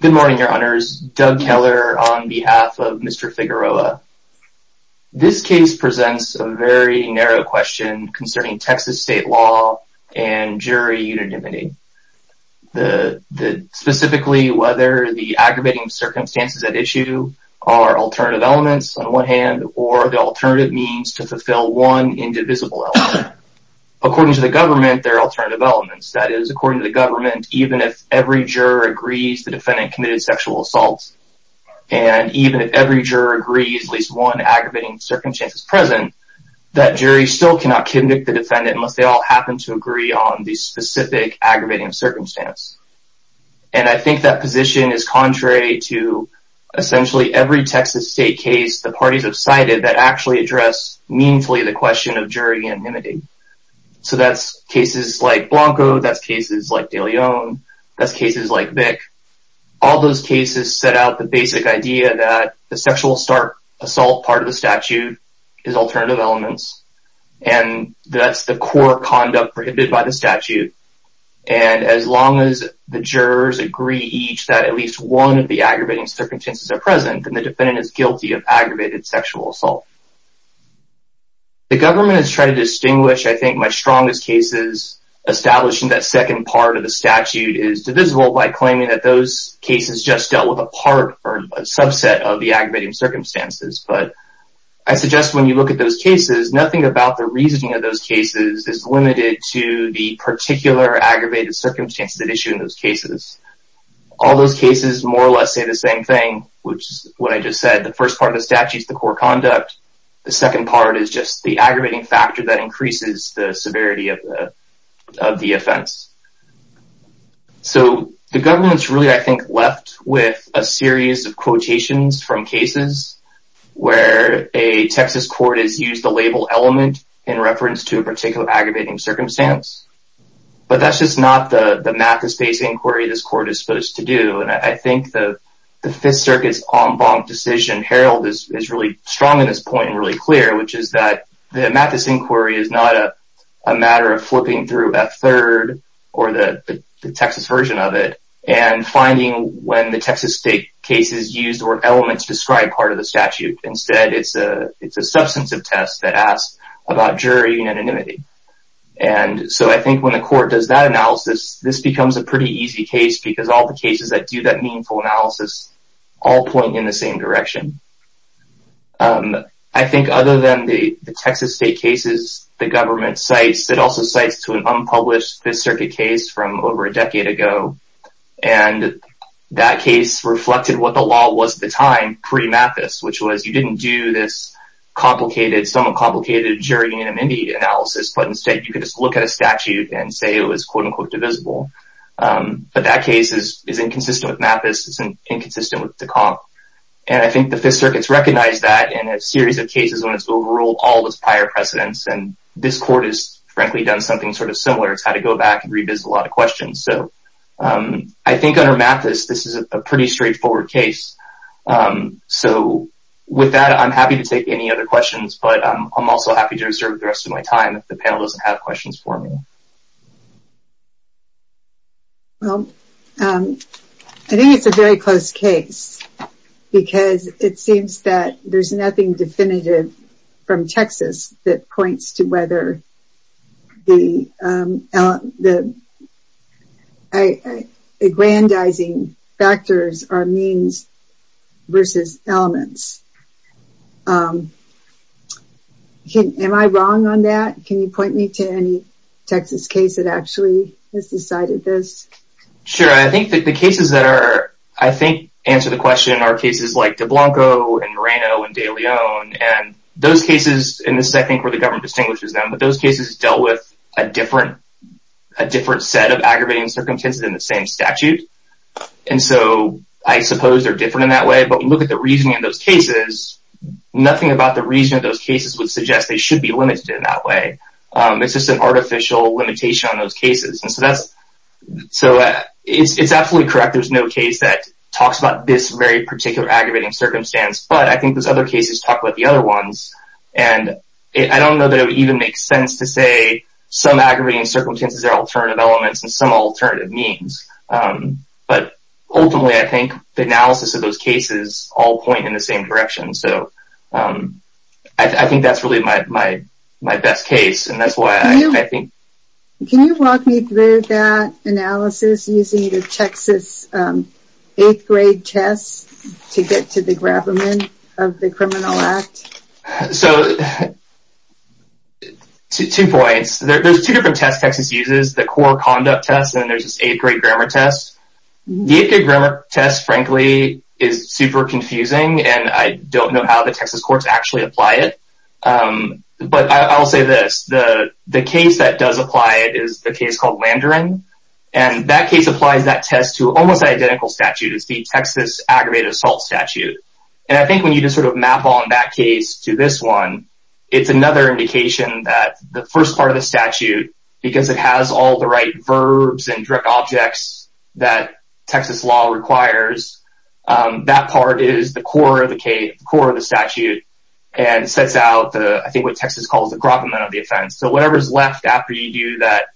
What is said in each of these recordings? Good morning, your honors. Doug Keller on behalf of Mr. Figueroa. This case presents a very narrow question concerning Texas state law and jury unanimity. Specifically, whether the aggravating circumstances at issue are alternative elements on one hand or the alternative means to fulfill one indivisible element. According to the government, there are alternative elements. That is, even if every juror agrees the defendant committed sexual assault, and even if every juror agrees at least one aggravating circumstance is present, that jury still cannot convict the defendant unless they all happen to agree on the specific aggravating circumstance. And I think that position is contrary to essentially every Texas state case the parties have cited that actually address meanfully the question of like De Leon, that's cases like Vic. All those cases set out the basic idea that the sexual assault part of the statute is alternative elements, and that's the core conduct prohibited by the statute. And as long as the jurors agree each that at least one of the aggravating circumstances are present, then the defendant is guilty of aggravated sexual assault. The government has tried to distinguish, I think, my strongest cases establishing that second part of the statute is divisible by claiming that those cases just dealt with a part or a subset of the aggravating circumstances. But I suggest when you look at those cases, nothing about the reasoning of those cases is limited to the particular aggravated circumstances at issue in those cases. All those cases more or less say the same thing, which is what I just said. The first part of the statute is the core conduct. The second part is just the aggravating factor that increases the severity of the offense. So the government's really, I think, left with a series of quotations from cases where a Texas court has used the label element in reference to a particular aggravating circumstance. But that's just not the Mathis-based inquiry this court is supposed to do. And I think the Fifth Circuit's en banc decision, Herald, is really strong in making this point really clear, which is that the Mathis inquiry is not a matter of flipping through that third or the Texas version of it and finding when the Texas state case is used or elements describe part of the statute. Instead, it's a substantive test that asks about jury unanimity. And so I think when the court does that analysis, this becomes a pretty easy case, because all the cases that do that meaningful analysis all point in the same direction. I think other than the Texas state cases the government cites, it also cites to an unpublished Fifth Circuit case from over a decade ago. And that case reflected what the law was at the time pre-Mathis, which was you didn't do this complicated, somewhat complicated, jury unanimity analysis. But instead, you could just look at a statute and say it was, quote unquote, divisible. But that case is inconsistent with Mathis. It's inconsistent with the comp. And I think the Fifth Circuit's recognized that in a series of cases when it's overruled all those prior precedents. And this court has, frankly, done something sort of similar. It's had to go back and revisit a lot of questions. So I think under Mathis, this is a pretty straightforward case. So with that, I'm happy to take any other questions, but I'm also happy to reserve the rest of my time if the panel doesn't have questions for me. Well, I think it's a very close case. Because it seems that there's nothing definitive from Texas that points to whether the aggrandizing factors are means versus elements. Am I wrong on that? Can you point me to any Texas case that actually has decided this? Sure. I think the cases that are, I think, answer the question are cases like DeBlanco and Moreno and DeLeon. And those cases, and this is, I think, where the government distinguishes them, but those cases dealt with a different set of aggravating circumstances than the same statute. And so I suppose they're different in that way. But we look at the reasoning of those cases, nothing about the reasoning of those cases would suggest they should be aggravated. So it's absolutely correct. There's no case that talks about this very particular aggravating circumstance, but I think there's other cases talk about the other ones. And I don't know that it would even make sense to say some aggravating circumstances are alternative elements and some alternative means. But ultimately, I think the analysis of those cases all point in the same direction. So I think that's really my best case. And that's why I think... Is Texas using the Texas 8th grade test to get to the gravamen of the Criminal Act? So, two points. There's two different tests Texas uses, the core conduct test and there's this 8th grade grammar test. The 8th grade grammar test, frankly, is super confusing, and I don't know how the Texas courts actually apply it. But I'll say this, the case that does apply that test to almost identical statute is the Texas aggravated assault statute. And I think when you just sort of map on that case to this one, it's another indication that the first part of the statute, because it has all the right verbs and direct objects that Texas law requires, that part is the core of the case, the core of the statute, and sets out the, I think, what Texas calls the gravamen of the offense. So whatever's left after you do that,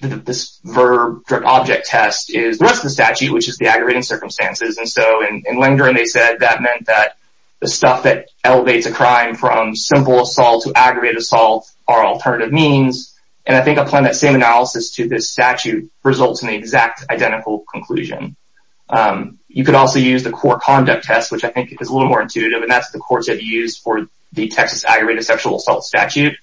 this verb, direct object test is the rest of the statute, which is the aggravating circumstances. And so in Langdon, they said that meant that the stuff that elevates a crime from simple assault to aggravated assault are alternative means. And I think applying that same analysis to this statute results in the exact identical conclusion. You could also use the core conduct test, which I think is a little more intuitive, and that's the courts have used for Texas aggravated sexual assault statute.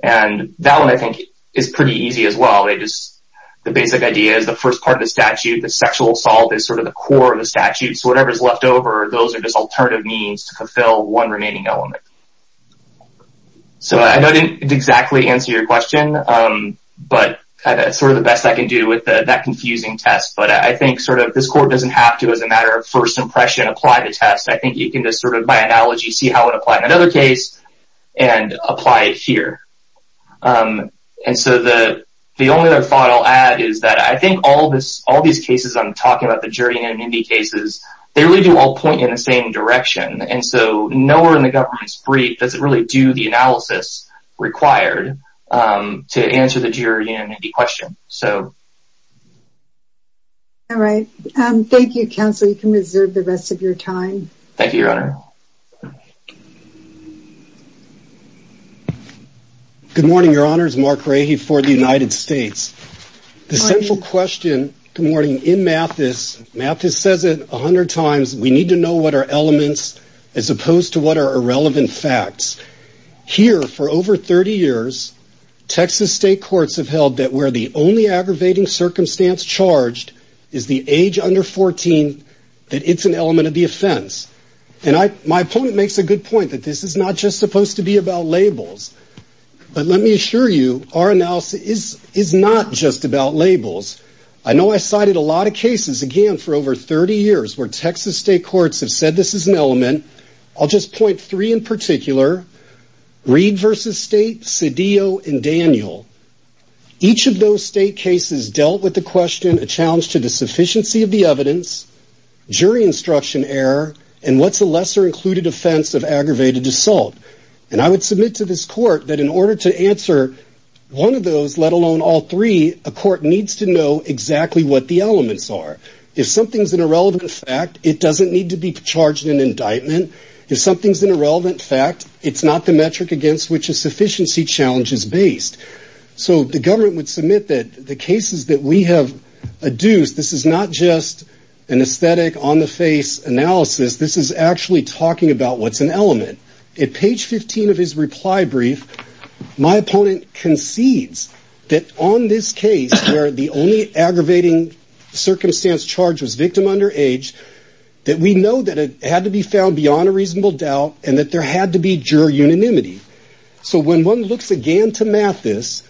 And that one, I think, is pretty easy as well. The basic idea is the first part of the statute, the sexual assault is sort of the core of the statute. So whatever's left over, those are just alternative means to fulfill one remaining element. So I know I didn't exactly answer your question, but that's sort of the best I can do with that confusing test. But I think sort of this court doesn't have to, as a matter of first impression, apply the test. I think you can just sort of, by analogy, see how it applies in another case and apply it here. And so the only other thought I'll add is that I think all these cases I'm talking about, the jury and immunity cases, they really do all point in the same direction. And so nowhere in the government's brief does it really do the analysis required to answer the jury and immunity question. So. All right. Thank you, counsel. You can reserve the rest of your time. Thank you, Your Honor. Good morning, Your Honors. Mark Rahe for the United States. The central question, good morning, in Mathis, Mathis says it 100 times, we need to know what are elements as opposed to what are irrelevant facts. Here, for over 30 years, Texas state courts have held that where the only aggravating circumstance charged is the age under 14, that it's an element of the offense. And my opponent makes a good point that this is not just supposed to be about labels. But let me assure you, our analysis is not just about labels. I know I cited a lot of cases, again, for over 30 years, where Texas state courts have said this is an element. I'll just point three in particular, Reed versus State, Cedillo and Daniel. Each of those state cases dealt with the question, a challenge to the sufficiency of the evidence, jury instruction error, and what's a lesser included offense of aggravated assault. And I would submit to this court that in order to answer one of those, let alone all three, a court needs to know exactly what the elements are. If something's an irrelevant fact, it doesn't need to be fact. It's not the metric against which a sufficiency challenge is based. So the government would submit that the cases that we have adduced, this is not just an aesthetic on the face analysis. This is actually talking about what's an element. At page 15 of his reply brief, my opponent concedes that on this case, where the only aggravating circumstance charge was victim under age, that we know that it had to be found beyond a reasonable doubt, and that there had to be juror unanimity. So when one looks again to math this,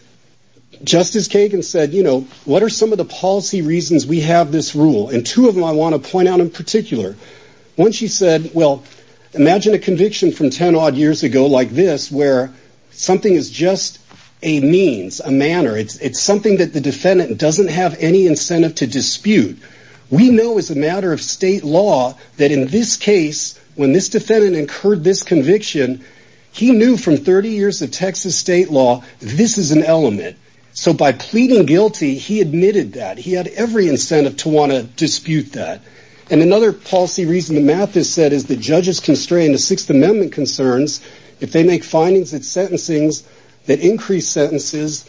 Justice Kagan said, you know, what are some of the policy reasons we have this rule? And two of them I want to point out in particular. One, she said, well, imagine a conviction from 10 odd years ago like this, where something is just a means, a manner. It's something that the defendant doesn't have any incentive to dispute. We know as a matter of state law, that in this case, when this defendant incurred this conviction, he knew from 30 years of Texas state law, this is an element. So by pleading guilty, he admitted that. He had every incentive to want to dispute that. And another policy reason, the math is said, is that judges constrain the Sixth Amendment concerns if they make findings at sentencings that increase sentences,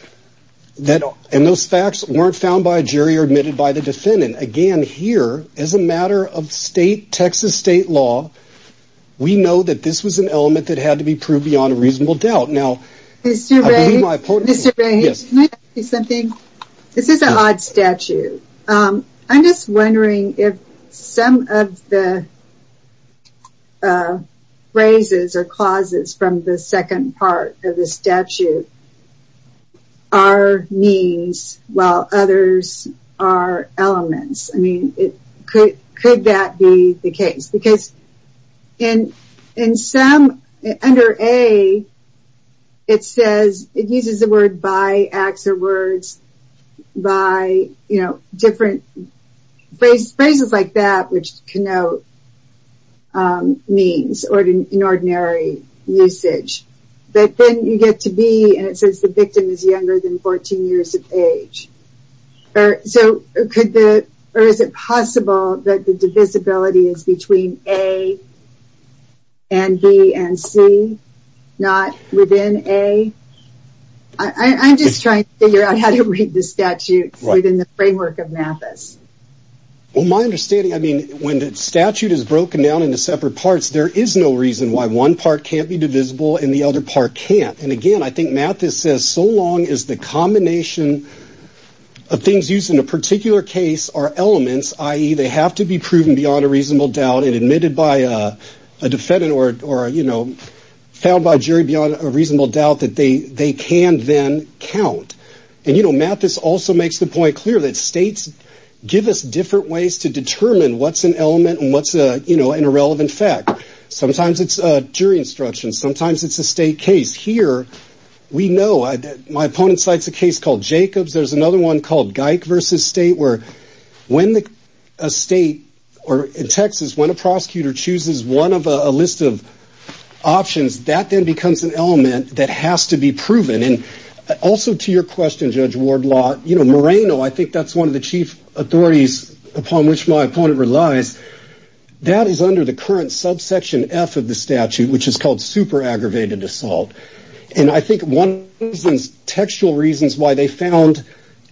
and those facts weren't found by a jury or admitted by the defendant. Again, here, as a matter of state, Texas state law, we know that this was an element that had to be proved beyond a reasonable doubt. Now, I believe my point is something, this is an odd statute. I'm just wondering if some of the phrases or clauses from the second part of the statute are means while others are elements. I mean, could that be the case? Because in some, under A, it says, it uses the word by, acts or words, by, you know, different phrases like that, which the victim is younger than 14 years of age. Or is it possible that the divisibility is between A and B and C, not within A? I'm just trying to figure out how to read the statute within the framework of mathis. Well, my understanding, I mean, when the statute is broken down into separate parts, there is no reason why one part can't be divisible and the other part can't. And again, I think mathis says, so long as the combination of things used in a particular case are elements, i.e., they have to be proven beyond a reasonable doubt and admitted by a defendant or, you know, found by a jury beyond a reasonable doubt that they can then count. And you know, mathis also makes the point clear that states give us different ways to determine what's an element and what's an irrelevant fact. Sometimes it's a jury instruction, sometimes it's a state case. Here, we know, my opponent cites a case called Jacobs, there's another one called Geick v. State, where when a state, or in Texas, when a prosecutor chooses one of a list of options, that then becomes an element that has to be proven. And also to your question, Judge Wardlaw, you know, Moreno, I think that's one of the chief authorities upon which my opponent relies, that is under the current subsection F of the statute, which is called super aggravated assault. And I think one of the textual reasons why they found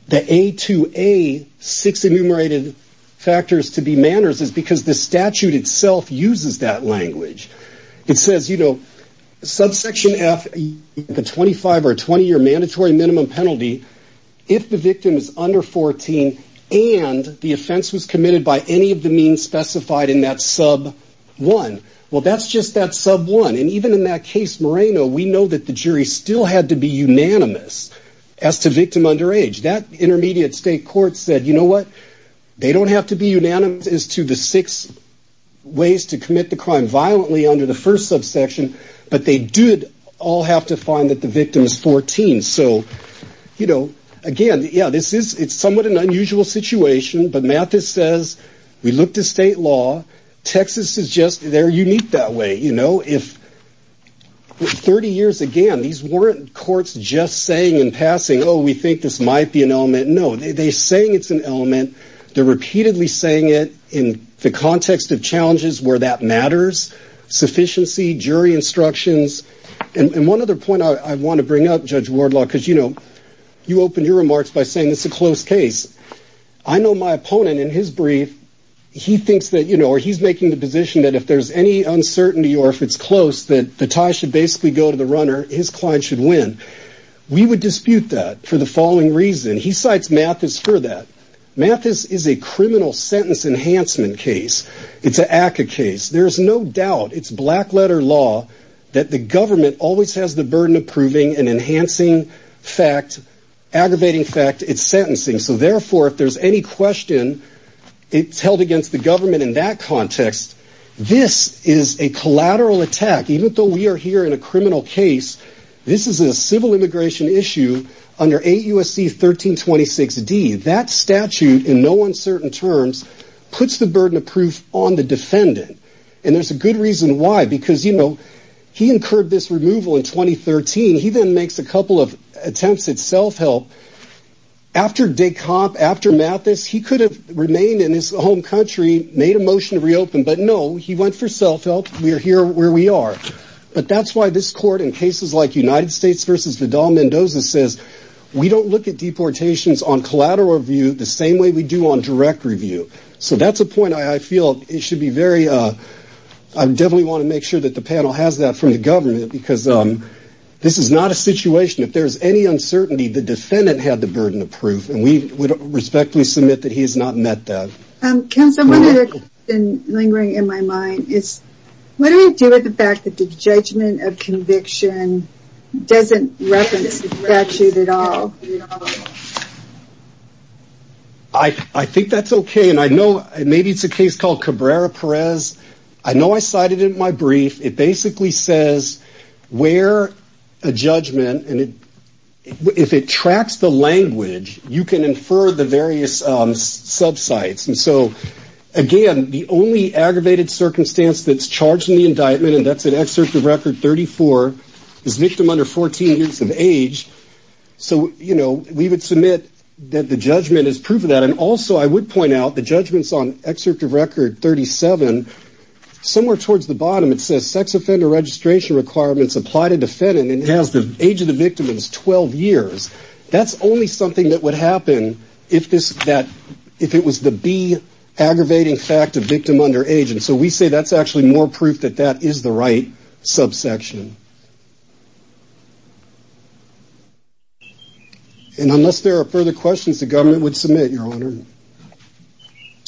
the A2A six enumerated factors to be manners is because the statute itself uses that language. It says, you know, subsection F, the 25 or 20-year mandatory minimum penalty, if the victim is under 14 and the offense was committed by any of the means specified in that sub one. Well, that's just that sub one. And even in that case, Moreno, we know that the jury still had to be unanimous as to victim underage. That intermediate state court said, you know what, they don't have to be unanimous as to the six ways to commit the crime violently under the first subsection, but they did all have to find that the victim is 14. So, you know, again, yeah, it's somewhat an unusual situation, but Mathis says, we looked at state law, Texas is just, they're unique that way. You know, if 30 years again, these weren't courts just saying in passing, oh, we think this might be an element. No, they saying it's an element. They're repeatedly saying it in the context of challenges where that matters, sufficiency, jury instructions. And one other point I want to bring up, Judge Wardlaw, because, you know, you opened your remarks by saying it's a close case. I know my opponent in his brief, he thinks that, you know, or he's making the position that if there's any uncertainty, or if it's close, that the tie should basically go to the runner. His client should win. We would dispute that for the following reason. He cites Mathis for that. Mathis is a criminal sentence enhancement case. It's a ACA case. There's no doubt it's black letter law that the government always has the burden of proving and enhancing fact, aggravating fact, it's sentencing. So therefore, if there's any question, it's held against the government in that context. This is a collateral attack. Even though we are here in a criminal case, this is a civil immigration issue under AUSC 1326D. That statute in no uncertain terms puts the burden of proof on the defendant. And there's a good reason why, because, you know, he incurred this removal in 2013. He then makes a couple of attempts at self-help. After Descomp, after Mathis, he could have remained in his home country, made a motion to reopen, but no, he went for self-help. We are here where we are. But that's why this court in cases like United States versus Vidal-Mendoza says, we don't look at deportations on collateral review, the same way we do on direct review. So that's a point I feel it should be very, I definitely want to make sure that the panel has that from the government, because this is not a situation, if there's any uncertainty, the defendant had the burden of proof, and we would respectfully submit that he has not met that. Kim, someone has been lingering in my mind. What do we do with the fact that the judgment of conviction doesn't reference the statute at all? I think that's okay. And I know maybe it's a case called Cabrera-Perez. I know I cited it in my brief. It basically says where a judgment, and if it tracks the language, you can infer the various subsites. And so, again, the only aggravated circumstance that's charged in the indictment, and that's an excerpt of record 34, is victim under 14 years of age. So, you know, we would submit that the judgment is proof of that. And also, I would point out the judgments on excerpt of record 37, somewhere towards the bottom, it says sex offender registration requirements apply to defendant, and it has the age of the victim is 12 years. That's only something that would happen if it was the B aggravating fact of victim under age. And so we say that's actually more proof that that is the right subsection. And unless there are further questions, the government would submit, Your Honor.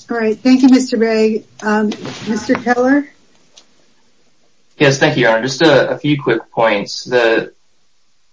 All right. Thank you, Mr. Bragg. Mr. Keller? Yes, thank you, Your Honor. Just a few quick points. The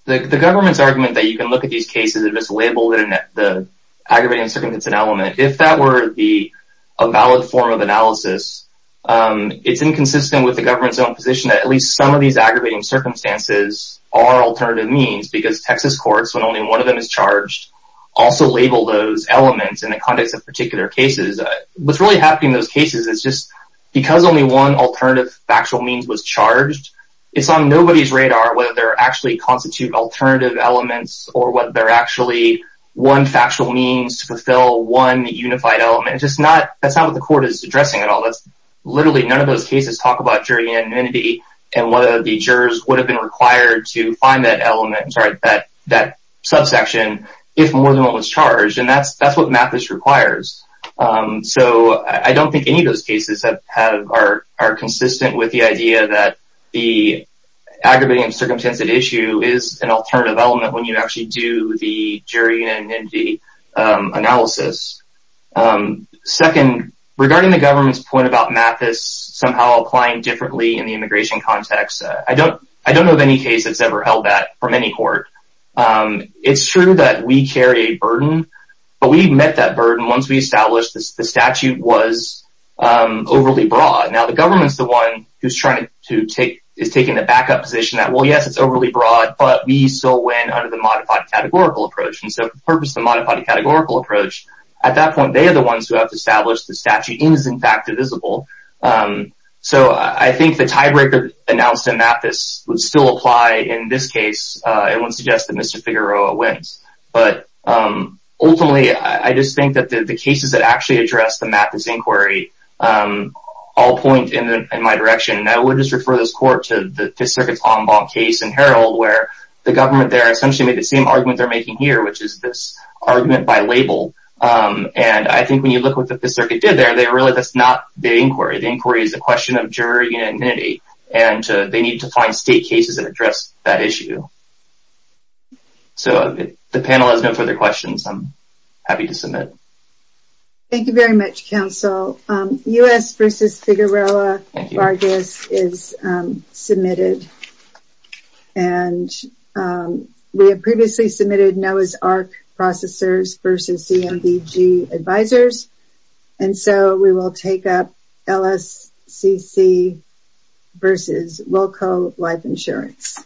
government's argument that you can look at these cases and just label the aggravating circumstance an element, if that were a valid form of analysis, it's inconsistent with the government's own position that at least some of these aggravating circumstances are alternative means because Texas courts, when only one of them is charged, also label those elements in the context of particular cases. What's really happening in those cases is just because only one alternative factual means was charged, it's on nobody's radar whether they're actually constitute alternative elements or whether they're actually one factual means to fulfill one unified element. It's just not, that's not what the court is addressing at all. That's literally none of those cases talk about jury unanimity and whether the jurors would have been required to find that element, sorry, that subsection if more than one was charged. And that's what Mathis requires. So, I don't think any of those cases are consistent with the idea that the aggravating and circumstantive issue is an alternative element when you actually do the jury unanimity analysis. Second, regarding the government's point about Mathis somehow applying differently in the immigration context, I don't know of any case that's ever held that from any court. It's true that we carry a burden, but we've met that burden once we established the statute was overly broad. Now, the government's the one who's trying to take, is taking the backup position that, well, yes, it's overly broad, but we still win under the modified categorical approach. And purpose of modified categorical approach, at that point, they are the ones who have to establish the statute is in fact divisible. So, I think the tiebreaker announced in Mathis would still apply in this case. It wouldn't suggest that Mr. Figueroa wins. But ultimately, I just think that the cases that actually address the Mathis inquiry all point in my direction. And I would just refer this court to the Fifth Circuit's Longbaum case in Herald where the government essentially made the same argument they're making here, which is this argument by label. And I think when you look at what the Fifth Circuit did there, they really, that's not the inquiry. The inquiry is a question of jury unanimity, and they need to find state cases that address that issue. So, if the panel has no further questions, I'm happy to submit. Thank you very much, counsel. U.S. v. Figueroa Vargas is submitted. And we have previously submitted NOAA's AHRQ processors v. CMDG advisors. And so, we will take up LSCC v. Wilco Life Insurance.